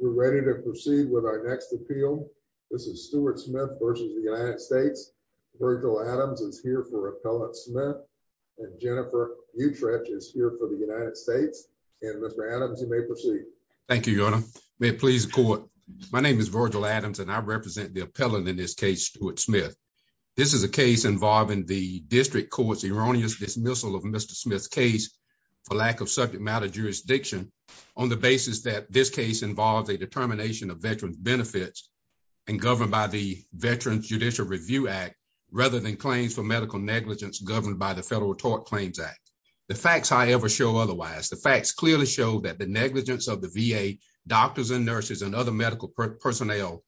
We're ready to proceed with our next appeal. This is Stuart Smith versus the United States. Virgil Adams is here for Appellant Smith and Jennifer Utrecht is here for the United States. And Mr. Adams, you may proceed. Thank you, Your Honor. May it please the court. My name is Virgil Adams and I represent the appellant in this case, Stuart Smith. This is a case involving the district court's erroneous dismissal of Mr. Smith's case for lack of subject matter jurisdiction on the basis that this case involves a determination of veterans benefits and governed by the Veterans Judicial Review Act, rather than claims for medical negligence governed by the Federal Tort Claims Act. The facts, however, show otherwise. The facts clearly show that the negligence of the VA, doctors and nurses and other medical personnel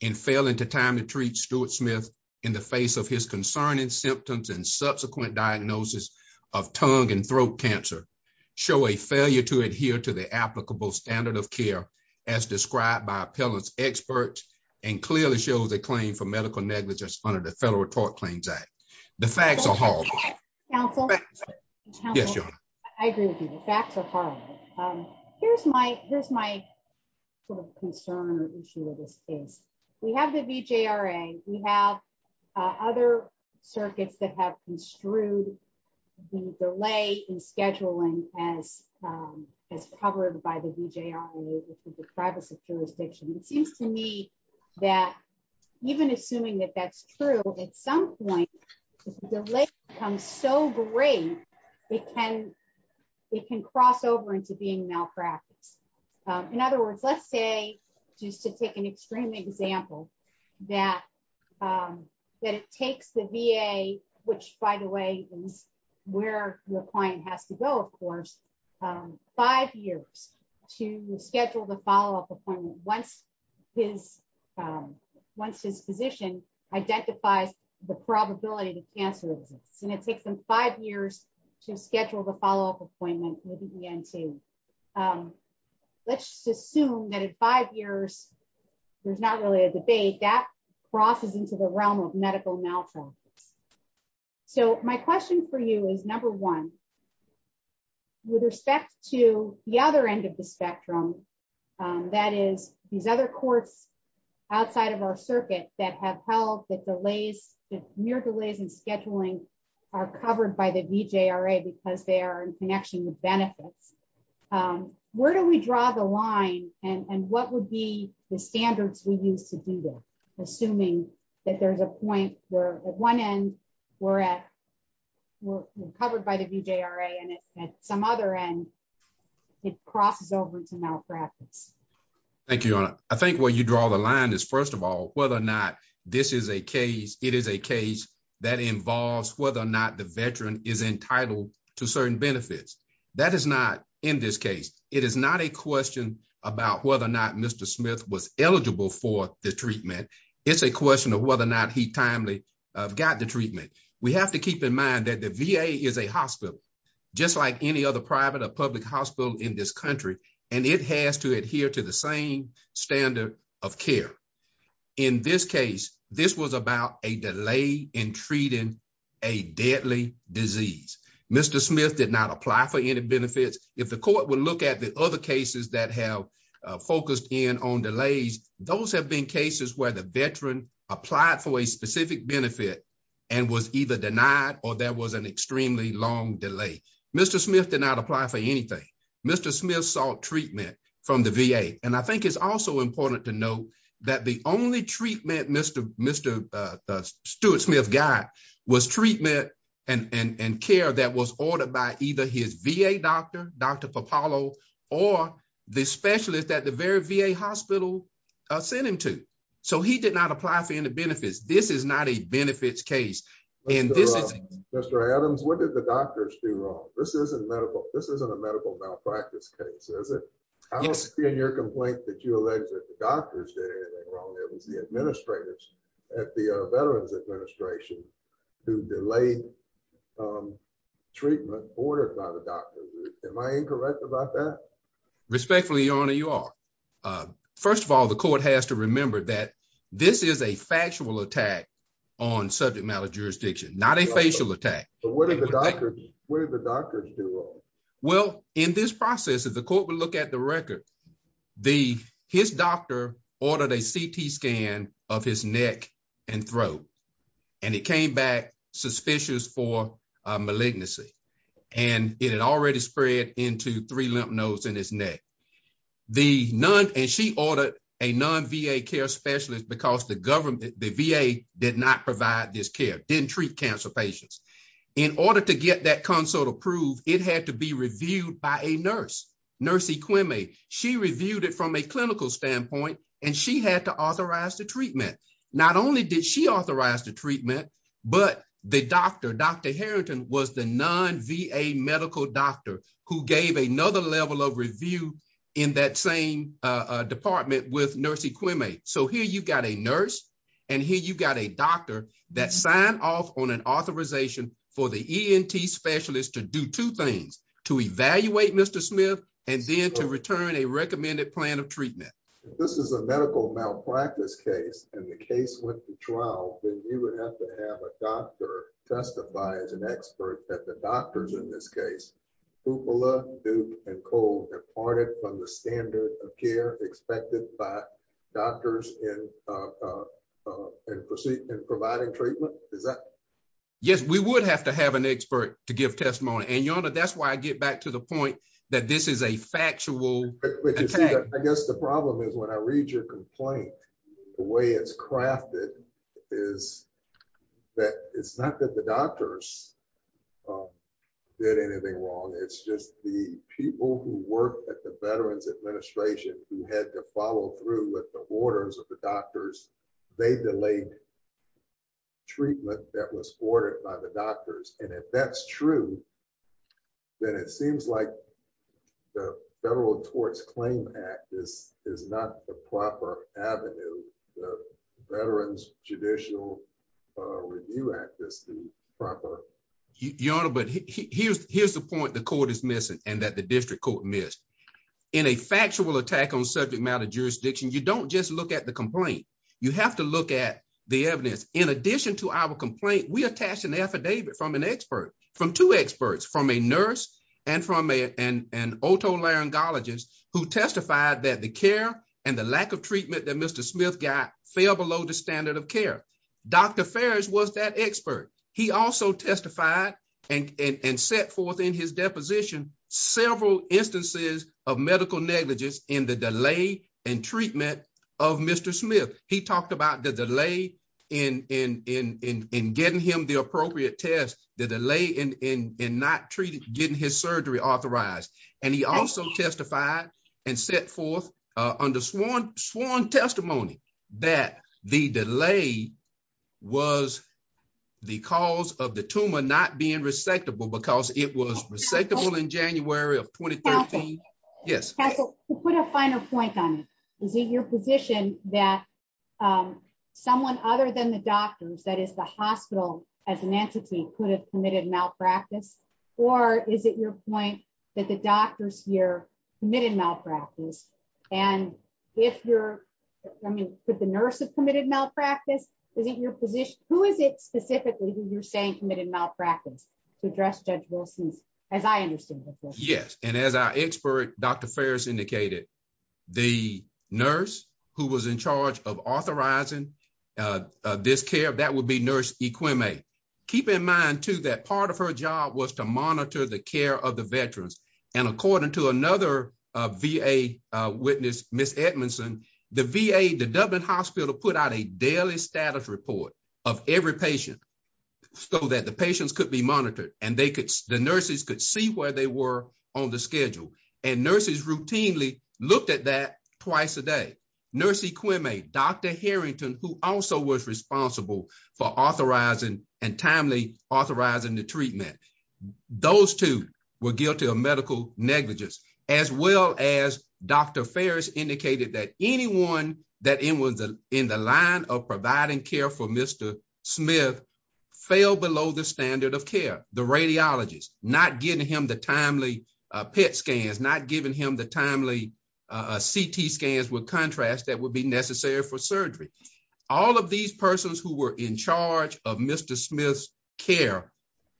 in failing to time to treat Stuart Smith in the face of his concerning symptoms and subsequent diagnosis of tongue and throat cancer show a failure to adhere to the applicable standard of care as described by appellants experts and clearly shows a claim for medical negligence under the Federal Tort Claims Act. The facts are hard. Yes, Your Honor. I agree with you, the facts are hard. Here's my, here's my concern or issue with this case. We have the VJRA, we have other circuits that have construed the delay in scheduling as, as covered by the VJRA, which is the privacy jurisdiction. It seems to me that even assuming that that's true, at some point, the delay becomes so great, it can, it can cross over into being malpractice. In other words, let's say, just to take an extreme example that, that it takes the VA, which, by the way, is where your client has to go of course, five years to schedule the follow up appointment once his, once his physician identifies the probability that cancer exists and it takes them five years to schedule the follow up appointment with the ENT. Let's just assume that in five years, there's not really a debate that crosses into the realm of medical malpractice. So my question for you is number one, with respect to the other end of the spectrum. That is, these other courts outside of our circuit that have held that delays, near delays in scheduling are covered by the VJRA because they are in connection with benefits. Where do we draw the line, and what would be the standards we use to do that, assuming that there's a point where at one end, we're at, we're covered by the VJRA and at some other end, it crosses over to malpractice. Thank you, Your Honor. I think where you draw the line is first of all, whether or not this is a case, it is a case that involves whether or not the veteran is entitled to certain benefits. That is not, in this case, it is not a question about whether or not Mr. Smith was eligible for the treatment. It's a question of whether or not he timely got the treatment. We have to keep in mind that the VA is a hospital, just like any other private or public hospital in this country, and it has to adhere to the same standard of care. In this case, this was about a delay in treating a deadly disease. Mr. Smith did not apply for any benefits. If the court would look at the other cases that have focused in on delays, those have been cases where the veteran applied for a specific benefit and was either denied or there was an extremely long delay. Mr. Smith did not apply for anything. Mr. Smith sought treatment from the VA. And I think it's also important to note that the only treatment Mr. Stuart Smith got was treatment and care that was ordered by either his VA doctor, Dr. Pappalo, or the specialist at the very VA hospital sent him to. So he did not apply for any benefits. This is not a benefits case. Mr. Adams, what did the doctors do wrong? This isn't a medical malpractice case, is it? I don't see in your complaint that you allege that the doctors did anything wrong. It was the administrators at the Veterans Administration who delayed treatment ordered by the doctors. Am I incorrect about that? Respectfully, Your Honor, you are. First of all, the court has to remember that this is a factual attack on subject matter jurisdiction, not a facial attack. What did the doctors do wrong? And she ordered a non-VA care specialist because the VA did not provide this care, didn't treat cancer patients. In order to get that consult approved, it had to be reviewed by a nurse, Nurse Equimea. She reviewed it from a clinical standpoint, and she had to authorize the treatment. Not only did she authorize the treatment, but the doctor, Dr. Harrington, was the non-VA medical doctor who gave another level of review in that same department with Nurse Equimea. So here you've got a nurse and here you've got a doctor that signed off on an authorization for the ENT specialist to do two things, to evaluate Mr. Smith and then to return a recommended plan of treatment. If this is a medical malpractice case and the case went to trial, then you would have to have a doctor testify as an expert that the doctors in this case, Hoopla, Duke, and Cole departed from the standard of care expected by doctors in providing treatment? Is that? Yes, we would have to have an expert to give testimony. And Your Honor, that's why I get back to the point that this is a factual attack. I guess the problem is when I read your complaint, the way it's crafted is that it's not that the doctors did anything wrong. It's just the people who work at the Veterans Administration who had to follow through with the orders of the doctors, they delayed treatment that was ordered by the doctors. And if that's true, then it seems like the Federal Torts Claim Act is not the proper avenue. Veterans Judicial Review Act is the proper. Your Honor, but here's the point the court is missing and that the district court missed. In a factual attack on subject matter jurisdiction, you don't just look at the complaint. You have to look at the evidence. In addition to our complaint, we attached an affidavit from an expert from two experts, from a nurse and from an otolaryngologist who testified that the care and the lack of treatment that Mr. Dr. Ferris was that expert. He also testified and set forth in his deposition several instances of medical negligence in the delay and treatment of Mr. Smith. He talked about the delay in getting him the appropriate test, the delay in not getting his surgery authorized. And he also testified and set forth under sworn testimony that the delay was the cause of the tumor not being resectable because it was resectable in January of 2013. Yes, put a finer point on your position that someone other than the doctors that is the hospital as an entity could have committed malpractice, or is it your point that the doctors here, committed malpractice. And if you're, I mean, could the nurse have committed malpractice. Is it your position, who is it specifically who you're saying committed malpractice to address judge Wilson's, as I understand. Yes, and as our expert, Dr. Ferris indicated, the nurse who was in charge of authorizing this care that would be nurse equipment. Keep in mind to that part of her job was to monitor the care of the veterans, and according to another VA witness, Miss Edmondson, the VA the Dublin hospital put out a daily status report of every patient. So that the patients could be monitored, and they could the nurses could see where they were on the schedule and nurses routinely looked at that twice a day. Nurse equipment, Dr. Harrington, who also was responsible for authorizing and timely authorizing the treatment. Those two were guilty of medical negligence, as well as Dr. Ferris indicated that anyone that in was in the line of providing care for Mr. Smith. Fell below the standard of care, the radiologist, not giving him the timely pet scans not giving him the timely CT scans with contrast that would be necessary for surgery. All of these persons who were in charge of Mr. Smith's care.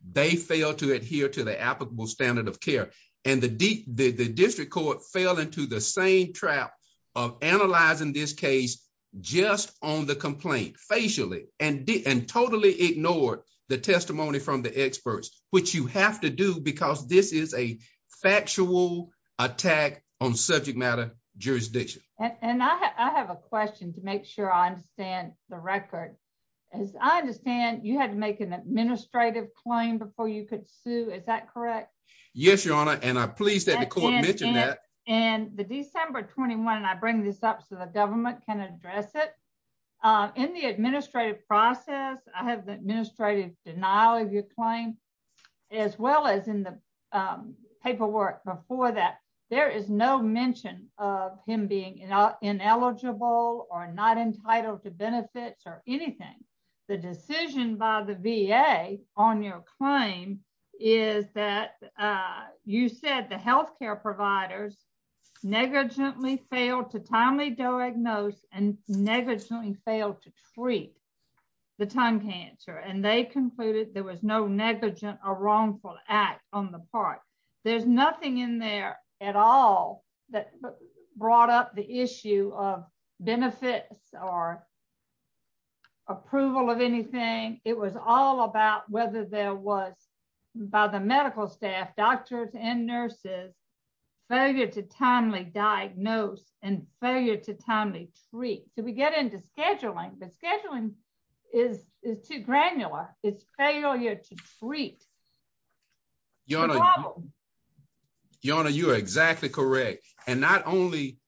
They fail to adhere to the applicable standard of care, and the deep, the district court fell into the same trap of analyzing this case. Just on the complaint facially and didn't totally ignore the testimony from the experts, which you have to do because this is a factual attack on subject matter, jurisdiction, and I have a question to make sure I understand the record. As I understand, you had to make an administrative claim before you could sue is that correct. Yes, Your Honor, and I'm pleased that the court mentioned that, and the December 21 and I bring this up so the government can address it in the administrative process, I have the administrative denial of your claim, as well as in the paperwork before that, there is no mention of him being ineligible or not entitled to benefits or anything. The decision by the VA on your claim is that you said the healthcare providers negligently failed to timely diagnose and negligently failed to treat the time cancer and they concluded there was no negligent or wrongful act on the part. There's nothing in there at all that brought up the issue of benefits or approval of anything, it was all about whether there was by the medical staff doctors and nurses failure to timely diagnose and failure to timely treat so we get into scheduling but Your Honor, you are exactly correct. And not only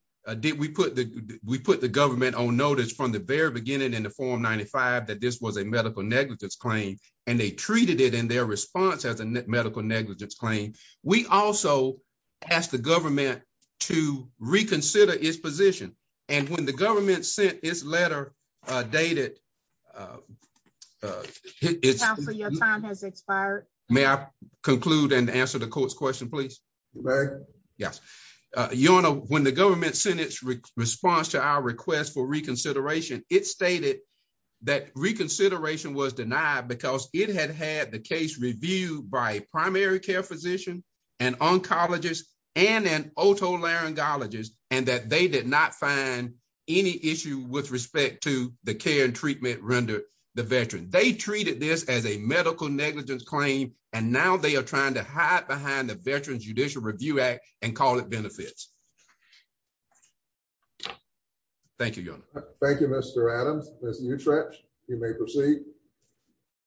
did we put the, we put the government on notice from the very beginning in the form 95 that this was a medical negligence claim, and they treated it in their response as a medical negligence claim. We also asked the government to reconsider his position. And when the government sent his letter dated. Your time has expired. May I conclude and answer the court's question please. Yes. Your Honor, when the government sentence response to our request for reconsideration, it stated that reconsideration was denied because it had had the case review by primary care physician and oncologist and an auto laryngologist, and that they did not find any issue with With respect to the care and treatment render the veteran they treated this as a medical negligence claim, and now they are trying to hide behind the Veterans Judicial Review Act and call it benefits. Thank you. Thank you, Mr Adams. You may proceed.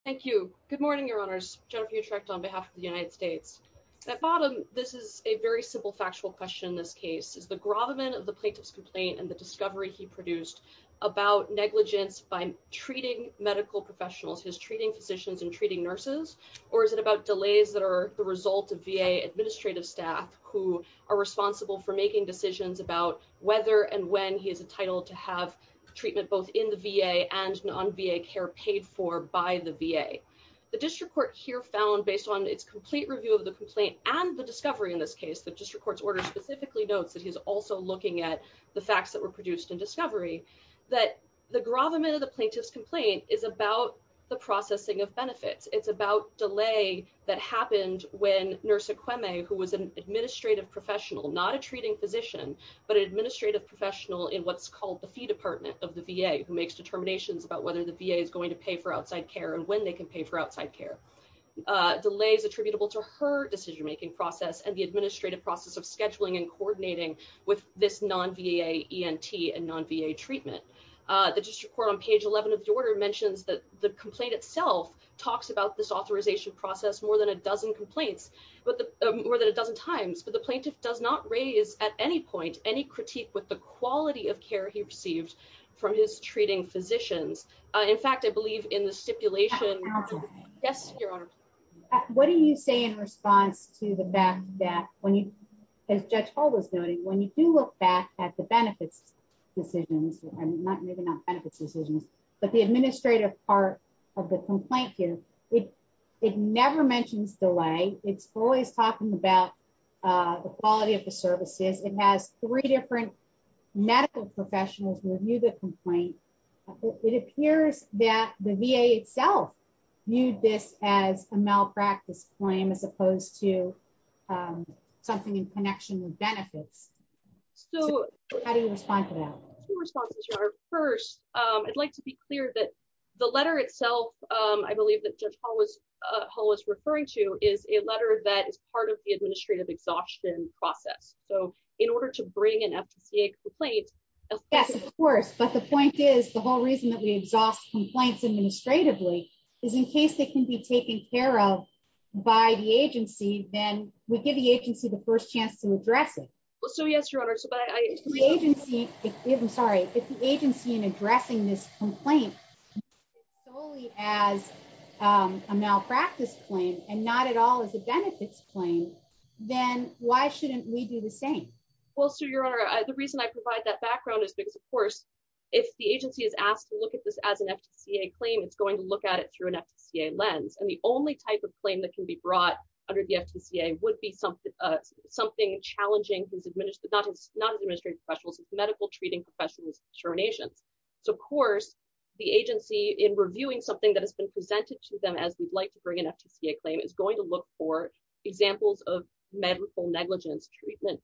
Thank you. Good morning, Your Honors, Jennifer you tracked on behalf of the United States. That bottom. This is a very simple factual question this case is the grove of men of the plaintiff's complaint and the discovery he produced about negligence by treating medical professionals his treating physicians and treating nurses, or is it about delays that are the result of VA administrative staff who are responsible for making decisions about whether and when he is entitled to have treatment both in the VA and non VA care paid for by the VA, the district court here found based on its complete review of the complaint, and the discovery in this case that just records order specifically notes that he's also looking at the facts that were produced in discovery that the grove of men of the plaintiff's complaint is about the processing of benefits, it's about delay that happened when nurse equine a who was an administrative professional not a treating physician, but administrative professional in what's called the fee department of the VA, who makes determinations about whether the VA is going to pay for outside care and when they can pay for outside care delays attributable to her decision making process and the administrative process of scheduling and coordinating with this non VA, and non VA treatment. The district court on page 11 of the order mentions that the complaint itself talks about this authorization process more than a dozen complaints, but more than a dozen times but the plaintiff does not raise at any point, any critique with the quality of care he received from his treating physicians. In fact, I believe in the stipulation. Yes, Your Honor. What do you say in response to the back that when you as Judge Paul was noting when you do look back at the benefits decisions, not maybe not benefits decisions, but the administrative part of the complaint here. It never mentions delay, it's always talking about the quality of the services, it has three different medical professionals review the complaint. It appears that the VA itself. You this as a malpractice claim as opposed to something in connection with benefits. So, how do you respond to that. First, I'd like to be clear that the letter itself. I believe that just always always referring to is a letter that is part of the administrative exhaustion process. So, in order to bring an FCA complaint. Yes, of course, but the point is the whole reason that we exhaust complaints administratively is in case they can be taken care of by the agency, then we give the agency the first chance to address it. So yes, your honor so by agency, even sorry if the agency and addressing this complaint. Only as a malpractice claim and not at all as a benefits plane, then why shouldn't we do the same. Well so your honor, the reason I provide that background is because of course, if the agency is asked to look at this as an FCA claim it's going to not as administrative professionals as medical treating professionals for nations. So of course, the agency in reviewing something that has been presented to them as we'd like to bring an FTCA claim is going to look for examples of medical negligence treatment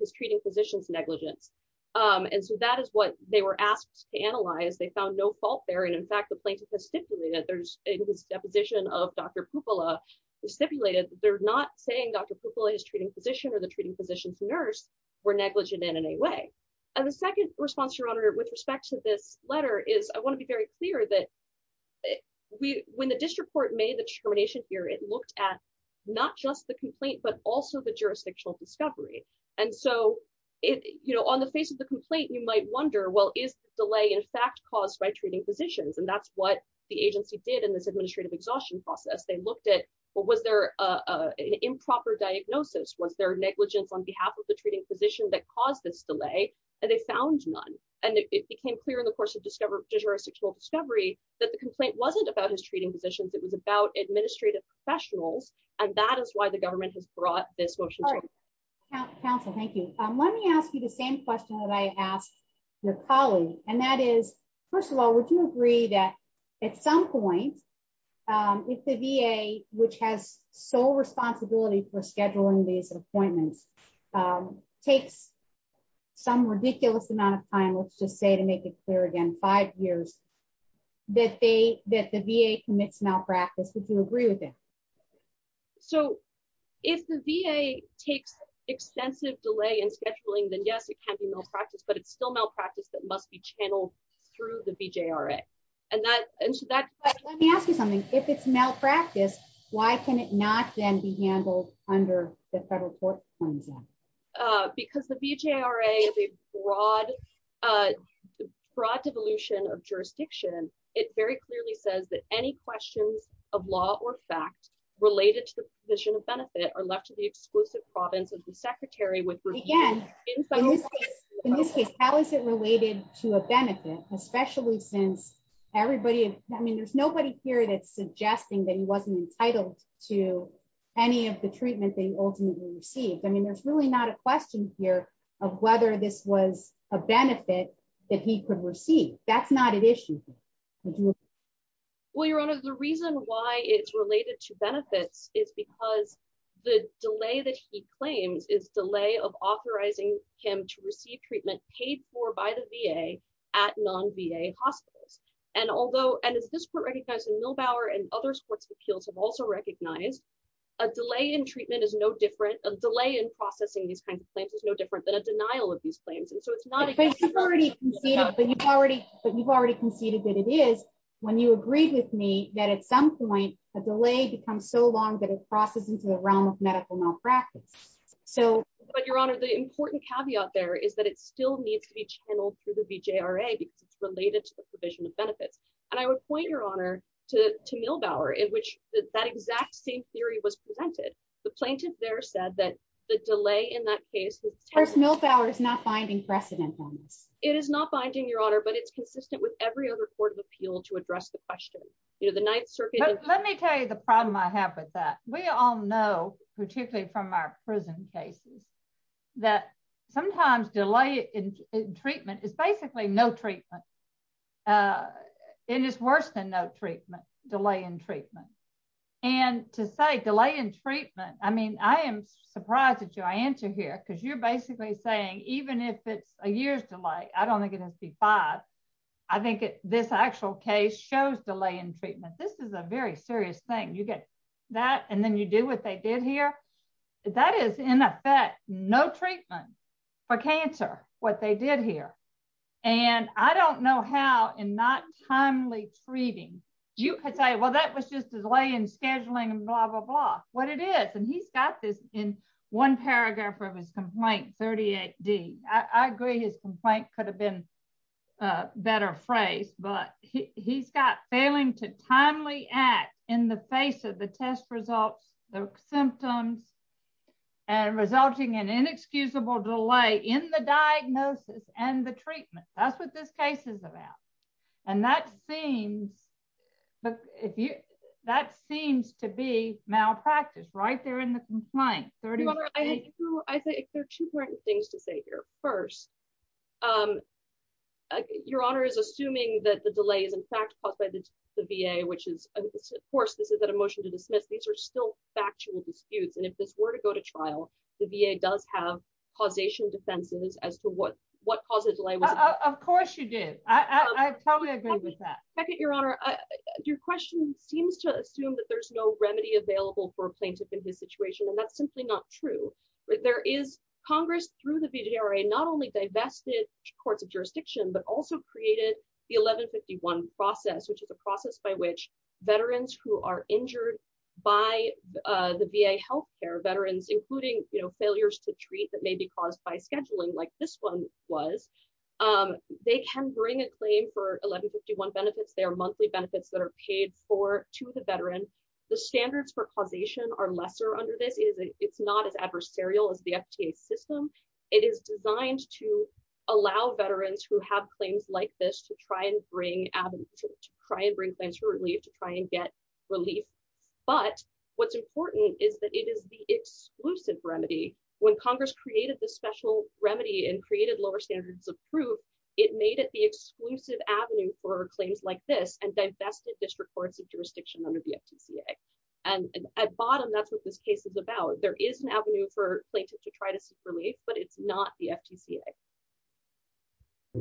is treating physicians negligence. And so that is what they were asked to analyze they found no fault there and in fact the plaintiff has stipulated there's a position of Dr. Pupila stipulated, they're not saying Dr. Pupila is treating physician or the treating physicians nurse were negligent in any way. And the second response your honor with respect to this letter is I want to be very clear that we, when the district court made the determination here it looked at not just the complaint but also the jurisdictional discovery. And so, it, you know, on the face of the complaint you might wonder well is delay in fact caused by treating physicians and that's what the agency did in this administrative exhaustion process they looked at what was their improper diagnosis was their negligence on behalf of the treating physician that caused this delay, and they found none, and it became clear in the course of discovery jurisdictional discovery that the complaint wasn't about his treating physicians it was about administrative professionals, and that is why the government has brought this motion. Council, thank you. Let me ask you the same question that I asked your colleague, and that is, first of all, would you agree that at some point. If the VA, which has sole responsibility for scheduling these appointments takes some ridiculous amount of time let's just say to make it clear again five years that they that the VA commits malpractice would you agree with it. So, if the VA takes extensive delay and scheduling then yes it can be malpractice but it's still malpractice that must be channeled through the BJRA, and that, and that, let me ask you something, if it's malpractice. Why can it not then be handled under the federal court. Because the BJRA is a broad, broad devolution of jurisdiction, it very clearly says that any questions of law or fact related to the position of benefit are left to the exclusive province of the secretary with again. In this case, how is it related to a benefit, especially since everybody. I mean there's nobody here that's suggesting that he wasn't entitled to any of the treatment they ultimately received I mean there's really not a question here of whether this was a benefit that he could receive. That's not an issue. Well, Your Honor, the reason why it's related to benefits is because the delay that he claims is delay of authorizing him to receive treatment paid for by the VA at non VA hospitals, and although and as this were recognized in millbauer and other sports appeals have also recognized a delay in treatment is no different delay in processing these kinds of places no different than a denial of these claims and so it's not already seen it but you've already, but you've already conceded that it is when you agree with me that at some point, a delay becomes so long that it crosses into the realm of medical malpractice. So, but Your Honor the important caveat there is that it still needs to be channeled through the BJRA because it's related to the provision of benefits, and I would point your honor to to millbauer in which that exact same theory was presented the plaintiff there said that the delay in that case was no power is not finding precedent on this, it is not finding your honor but it's consistent with every other court of appeal to address the question, you know, the Ninth Circuit, let me tell you the problem I have with that we all know, particularly from our prison cases that sometimes delay in treatment is basically no treatment. It is worse than no treatment delay in treatment. And to say delay in treatment, I mean, I am surprised that you answer here because you're basically saying, even if it's a year's delay, I don't think it has to be five. I think this actual case shows delay in treatment, this is a very serious thing you get that and then you do what they did here. That is, in effect, no treatment for cancer, what they did here. And I don't know how and not timely treating. You could say well that was just a delay in scheduling and blah blah blah, what it is and he's got this in one paragraph of his complaint 38 D, I agree his complaint could have been better phrase, but he's got failing to timely act in the face of the test results, the symptoms and resulting in inexcusable delay in the diagnosis and the treatment. That's what this case is about. And that seems, but if you, that seems to be malpractice right there in the complaint. I think there are two things to say here. First, Your Honor is assuming that the delay is in fact caused by the VA which is, of course, this is that emotion to dismiss these are still factual disputes and if this were to go to trial, the VA does have causation defenses as to what what causes like, of course you did. I totally agree with that. I get your honor. Your question seems to assume that there's no remedy available for plaintiff in this situation and that's simply not true, but there is Congress through the video right not only divested courts of jurisdiction but also created the 1151 process which is a process by which veterans who are injured by the VA health care veterans, including, you know, failures to treat that may be caused by scheduling like this one was. They can bring a claim for 1151 benefits their monthly benefits that are paid for to the veteran. The standards for causation are lesser under this is it's not as adversarial as the FDA system. It is designed to allow veterans who have claims like this to try and bring to try and bring things really to try and get relief. But what's important is that it is the exclusive remedy when Congress created the special remedy and created lower standards of proof. It made it the exclusive avenue for claims like this and divested district courts of jurisdiction under the FDA, and at bottom that's what this case is about there is an avenue for plaintiff to try to see for me, but it's not the FDA.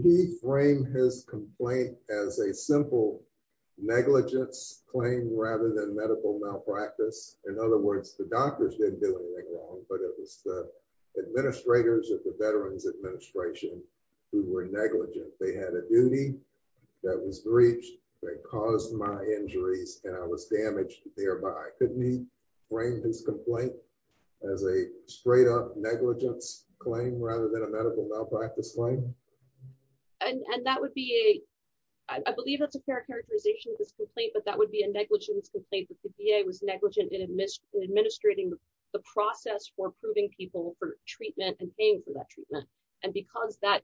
He framed his complaint as a simple negligence claim rather than medical malpractice. In other words, the doctors didn't do anything wrong, but it was the administrators of the Veterans Administration who were negligent. They had a duty that was reached that caused my injuries, and I was damaged, thereby couldn't be framed as complaint as a straight up negligence claim rather than a medical malpractice claim. And that would be a, I believe that's a fair characterization this complaint but that would be a negligence complaint with the VA was negligent in administering the process for proving people for treatment and paying for that treatment, and because that the actual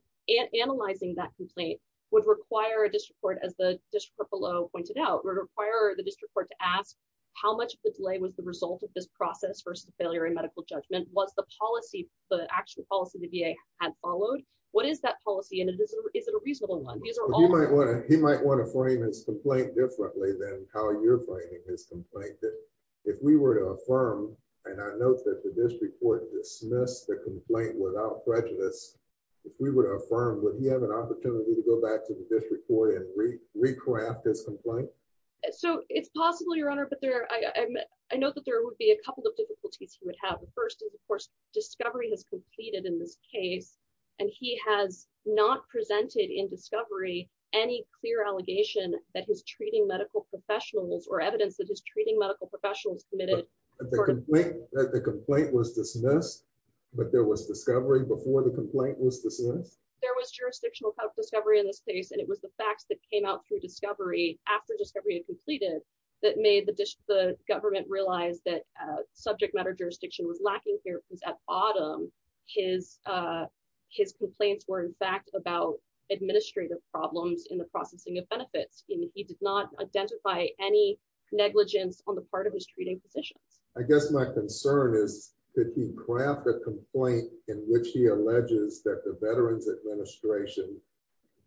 policy the VA had followed. What is that policy and is it a reasonable one? These are all... He might want to frame his complaint differently than how you're framing his complaint. If we were to affirm, and I know that the district court dismissed the complaint without prejudice. If we were to affirm, would he have an opportunity to go back to the district court and recraft his complaint? So, it's possible, Your Honor, but I know that there would be a couple of difficulties he would have. The first is, of course, discovery has completed in this case, and he has not presented in discovery any clear allegation that his treating medical professionals or evidence that his treating medical professionals submitted... The complaint was dismissed, but there was discovery before the complaint was dismissed? There was jurisdictional discovery in this case and it was the facts that came out through discovery after discovery had completed that made the government realize that subject matter jurisdiction was lacking here because at bottom, his complaints were in fact about administrative problems in the processing of benefits. He did not identify any negligence on the part of his treating physicians. I guess my concern is, could he craft a complaint in which he alleges that the Veterans Administration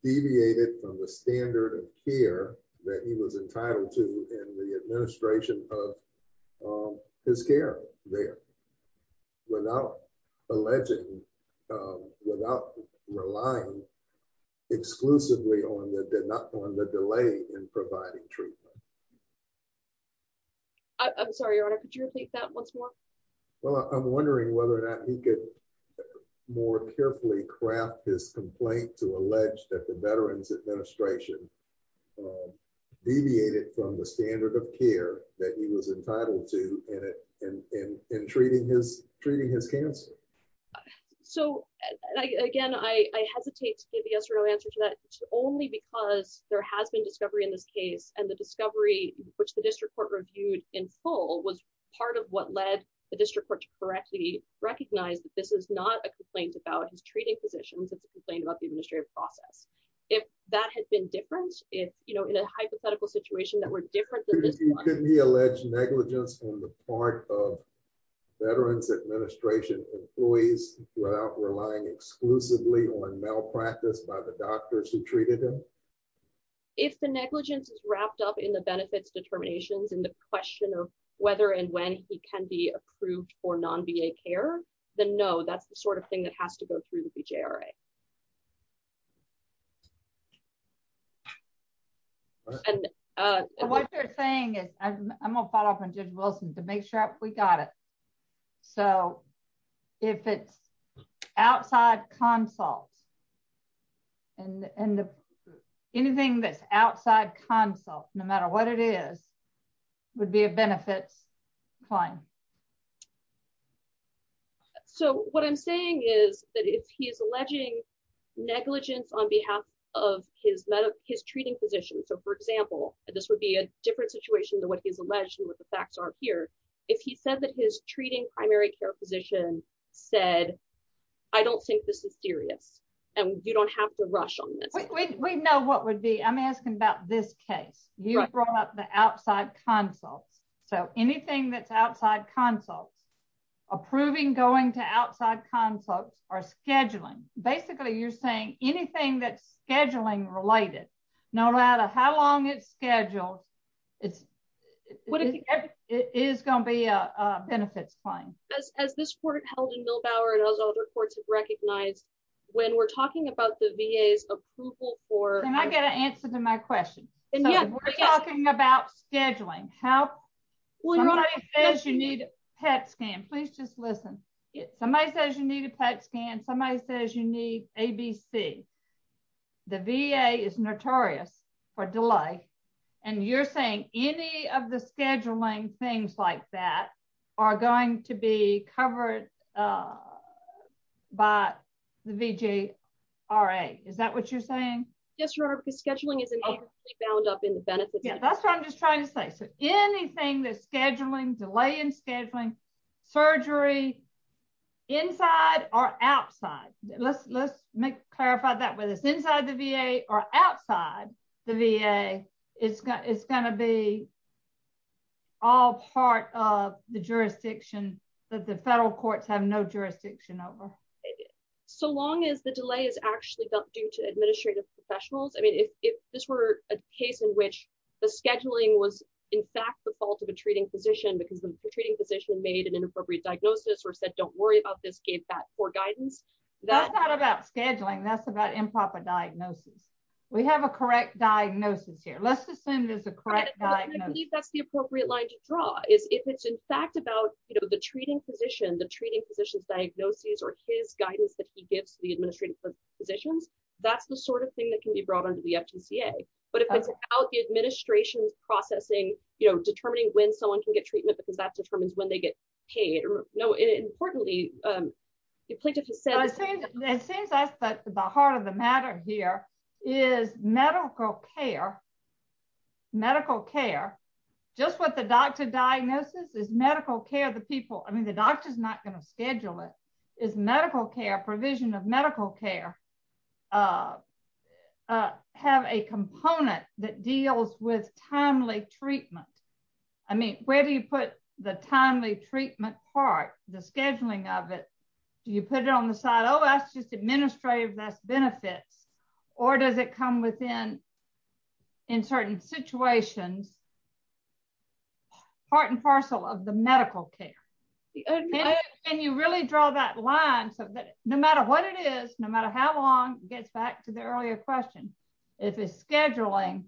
deviated from the standard of care that he was entitled to in the administration of his care there without alleging, without relying exclusively on the delay in providing treatment? I'm sorry, Your Honor, could you repeat that once more? Well, I'm wondering whether or not he could more carefully craft his complaint to allege that the Veterans Administration deviated from the standard of care that he was entitled to in treating his cancer. So, again, I hesitate to give the answer to that only because there has been discovery in this case and the discovery, which the district court reviewed in full was part of what led the district court to correctly recognize that this is not a complaint about his treating physicians, it's a complaint about the administrative process. If that had been different, in a hypothetical situation that were different than this one. Could he allege negligence on the part of Veterans Administration employees without relying exclusively on malpractice by the doctors who treated him? If the negligence is wrapped up in the benefits determinations and the question of whether and when he can be approved for non-VA care, then no, that's the sort of thing that has to go through the BJRA. And what you're saying is, I'm going to follow up on Judge Wilson to make sure we got it. So, if it's outside consult and anything that's outside consult, no matter what it is, would be a benefits claim. So, what I'm saying is that if he is alleging negligence on behalf of his treating physician, so for example, this would be a different situation than what he's alleged and what the facts are here. If he said that his treating primary care physician said, I don't think this is serious, and you don't have to rush on this. We know what would be, I'm asking about this case. You brought up the outside consults. So, anything that's outside consults, approving going to outside consults are scheduling. Basically, you're saying anything that's scheduling related, no matter how long it's scheduled, it is going to be a benefits claim. As this court held in Milbauer and as other courts have recognized, when we're talking about the VA's approval for... Can I get an answer to my question? We're talking about scheduling. Somebody says you need a PET scan. Please just listen. Somebody says you need a PET scan, somebody says you need ABC. The VA is notorious for delay, and you're saying any of the scheduling things like that are going to be covered by the VGRA. Is that what you're saying? Yes, because scheduling is bound up in the benefits. That's what I'm just trying to say. So, anything that's scheduling, delay in scheduling, surgery, inside or outside. Let's clarify that. Whether it's inside the VA or outside the VA, it's going to be all part of the jurisdiction that the federal courts have no jurisdiction over. So long as the delay is actually due to administrative professionals, if this were a case in which the scheduling was in fact the fault of a treating physician because the treating physician made an inappropriate diagnosis or said don't worry about this, gave that poor guidance... That's not about scheduling. That's about improper diagnosis. We have a correct diagnosis here. Let's assume there's a correct diagnosis. I believe that's the appropriate line to draw. If it's in fact about the treating physician, the treating physician's diagnosis or his guidance that he gives the administrative physicians, that's the sort of thing that can be brought on to the FGCA. But if it's about the administration's processing, determining when someone can get treatment because that determines when they get paid. Importantly, Plaintiff has said... It seems that's the heart of the matter here is medical care. Medical care. Just what the doctor diagnosis is medical care of the people. I mean the doctor's not going to schedule it. Is medical care provision of medical care have a component that deals with timely treatment. I mean, where do you put the timely treatment part, the scheduling of it. Do you put it on the side. Oh, that's just administrative, that's benefits, or does it come within in certain situations. Part and parcel of the medical care. And you really draw that line so that no matter what it is, no matter how long, gets back to the earlier question. If it's scheduling,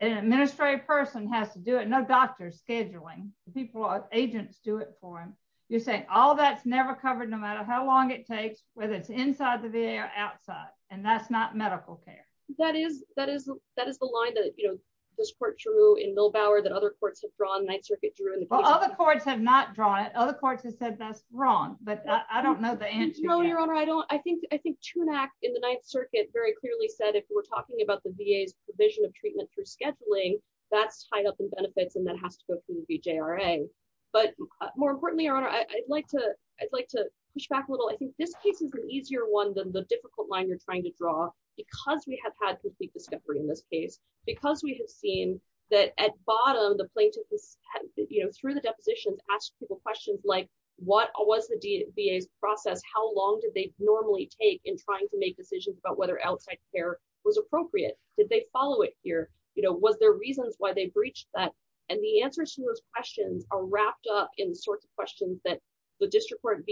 an administrative person has to do it, no doctors scheduling, people or agents do it for him. You're saying all that's never covered no matter how long it takes, whether it's inside the VA or outside, and that's not medical care. That is, that is, that is the line that, you know, this court drew in Milbauer that other courts have drawn, Ninth Circuit drew... Well, other courts have not drawn it, other courts have said that's wrong, but I don't know the answer. No, Your Honor, I don't, I think, I think TUNAC in the Ninth Circuit very clearly said if we're talking about the VA's provision of treatment through scheduling, that's tied up in benefits and that has to go through the VJRA. But more importantly, Your Honor, I'd like to, I'd like to push back a little. I think this case is an easier one than the difficult line you're trying to draw, because we have had complete discovery in this case, because we have seen that at bottom, the plaintiff has, you know, through the depositions, asked people questions like, what was the VA's process? How long did they normally take in trying to make decisions about whether outside care was appropriate? Did they follow it here? You know, was there reasons why they breached that? And the answers to those questions are wrapped up in the sorts of questions that the district court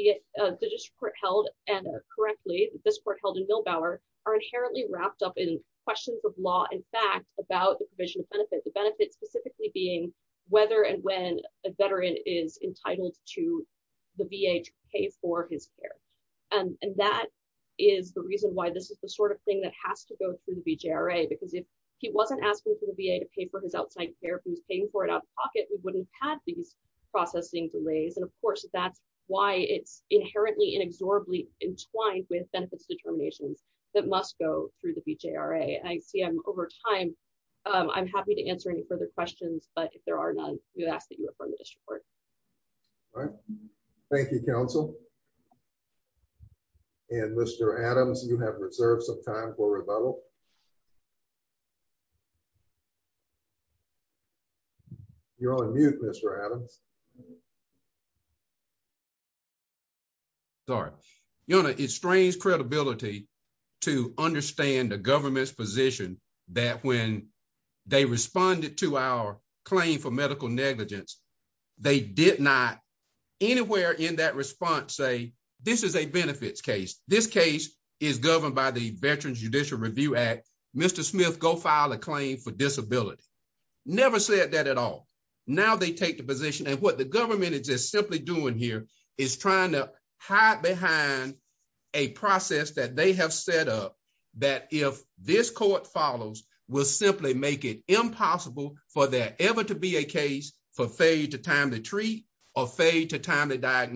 held, and correctly, this court held in Milbauer, are inherently wrapped up in questions of law and fact about the provision of benefit. The benefits specifically being whether and when a veteran is entitled to the VA to pay for his care. And that is the reason why this is the sort of thing that has to go through the VJRA, because if he wasn't asking for the VA to pay for his outside care, if he was paying for it out of pocket, we wouldn't have these processing delays. And of course, that's why it's inherently inexorably entwined with benefits determinations that must go through the VJRA. I see I'm over time. I'm happy to answer any further questions. But if there are none, we ask that you affirm the district court. All right. Thank you, counsel. And Mr. Adams, you have reserved some time for rebuttal. You're on mute, Mr. Adams. Sorry. Yona, it strains credibility to understand the government's position that when they responded to our claim for medical negligence, they did not anywhere in that response say, this is a benefits case. This case is governed by the Veterans Judicial Review Act. Mr. Smith, go file a claim for disability. Never said that at all. Now they take the position, and what the government is just simply doing here is trying to hide behind a process that they have set up that if this court follows, will simply make it impossible for there ever to be a case for failure to time the treat or failure to time the That's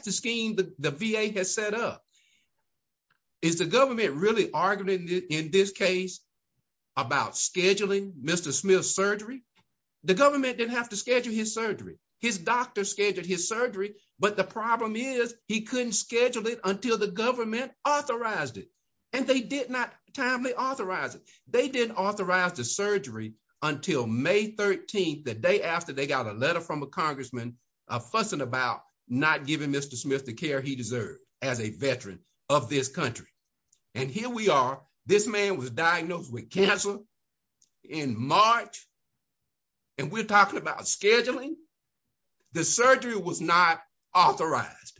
the scheme the VA has set up. Is the government really arguing in this case about scheduling Mr. Smith's surgery? The government didn't have to schedule his surgery. His doctor scheduled his surgery, but the problem is he couldn't schedule it until the government authorized it. And they did not timely authorize it. They didn't authorize the surgery until May 13th, the day after they got a letter from a congressman fussing about not giving Mr. Smith the care he deserved as a veteran of this country. And here we are, this man was diagnosed with cancer in March, and we're talking about scheduling. The surgery was not authorized,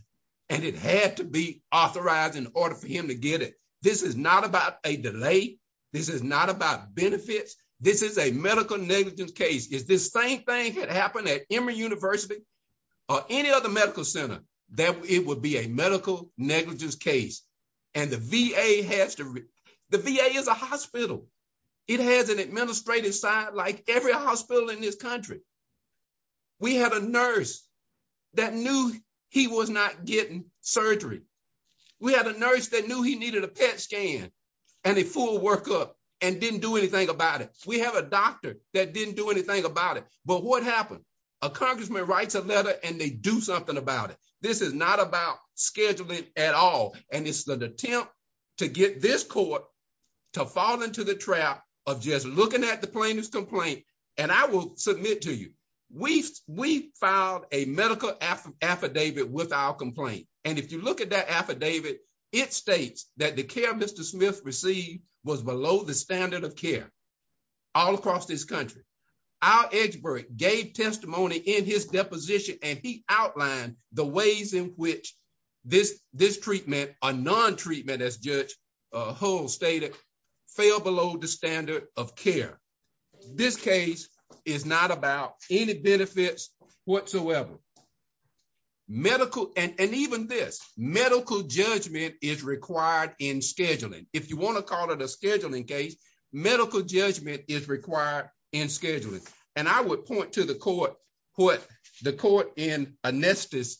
and it had to be authorized in order for him to get it. This is not about a delay. This is not about benefits. This is a medical negligence case. If the same thing had happened at Emory University or any other medical center, it would be a medical negligence case. And the VA has to—the VA is a hospital. It has an administrative side like every hospital in this country. We had a nurse that knew he was not getting surgery. We had a nurse that knew he needed a PET scan and a full workup and didn't do anything about it. We have a doctor that didn't do anything about it. But what happened? A congressman writes a letter, and they do something about it. This is not about scheduling at all, and it's an attempt to get this court to fall into the trap of just looking at the plaintiff's complaint. And I will submit to you, we filed a medical affidavit with our complaint. And if you look at that affidavit, it states that the care Mr. Smith received was below the standard of care all across this country. Our expert gave testimony in his deposition, and he outlined the ways in which this treatment or non-treatment, as Judge Hull stated, fell below the standard of care. This case is not about any benefits whatsoever. And even this, medical judgment is required in scheduling. If you want to call it a scheduling case, medical judgment is required in scheduling. And I would point to what the court in Onestos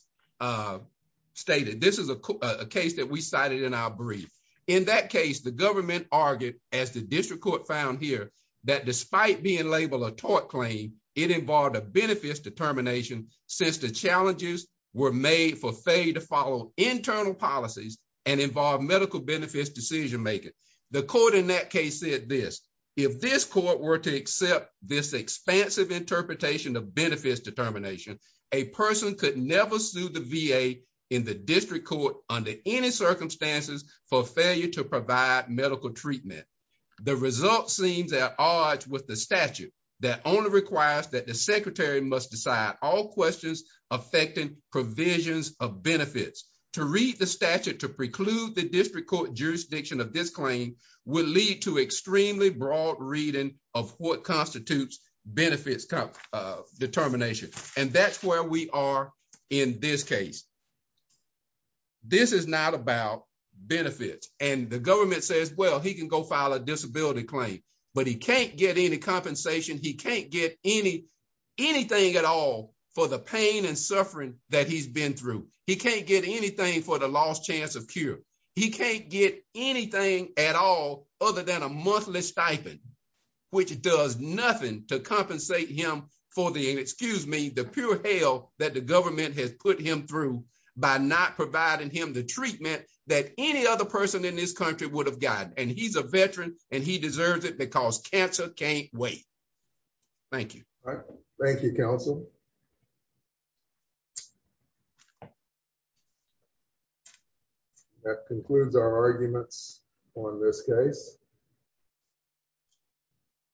stated. This is a case that we cited in our brief. In that case, the government argued, as the district court found here, that despite being labeled a tort claim, it involved a benefits determination since the challenges were made for Faye to follow internal policies and involve medical benefits decision-making. The court in that case said this, if this court were to accept this expansive interpretation of benefits determination, a person could never sue the VA in the district court under any circumstances for failure to provide medical treatment. The result seems at odds with the statute that only requires that the secretary must decide all questions affecting provisions of benefits. To read the statute to preclude the district court jurisdiction of this claim would lead to extremely broad reading of what constitutes benefits determination. And that's where we are in this case. This is not about benefits. And the government says, well, he can go file a disability claim, but he can't get any compensation. He can't get anything at all for the pain and suffering that he's been through. He can't get anything for the lost chance of cure. He can't get anything at all other than a monthly stipend, which does nothing to compensate him for the, excuse me, the pure hell that the government has put him through by not providing him the treatment that any other person in this country would have gotten. And he's a veteran, and he deserves it because cancer can't wait. Thank you. Thank you, counsel. That concludes our arguments on this case.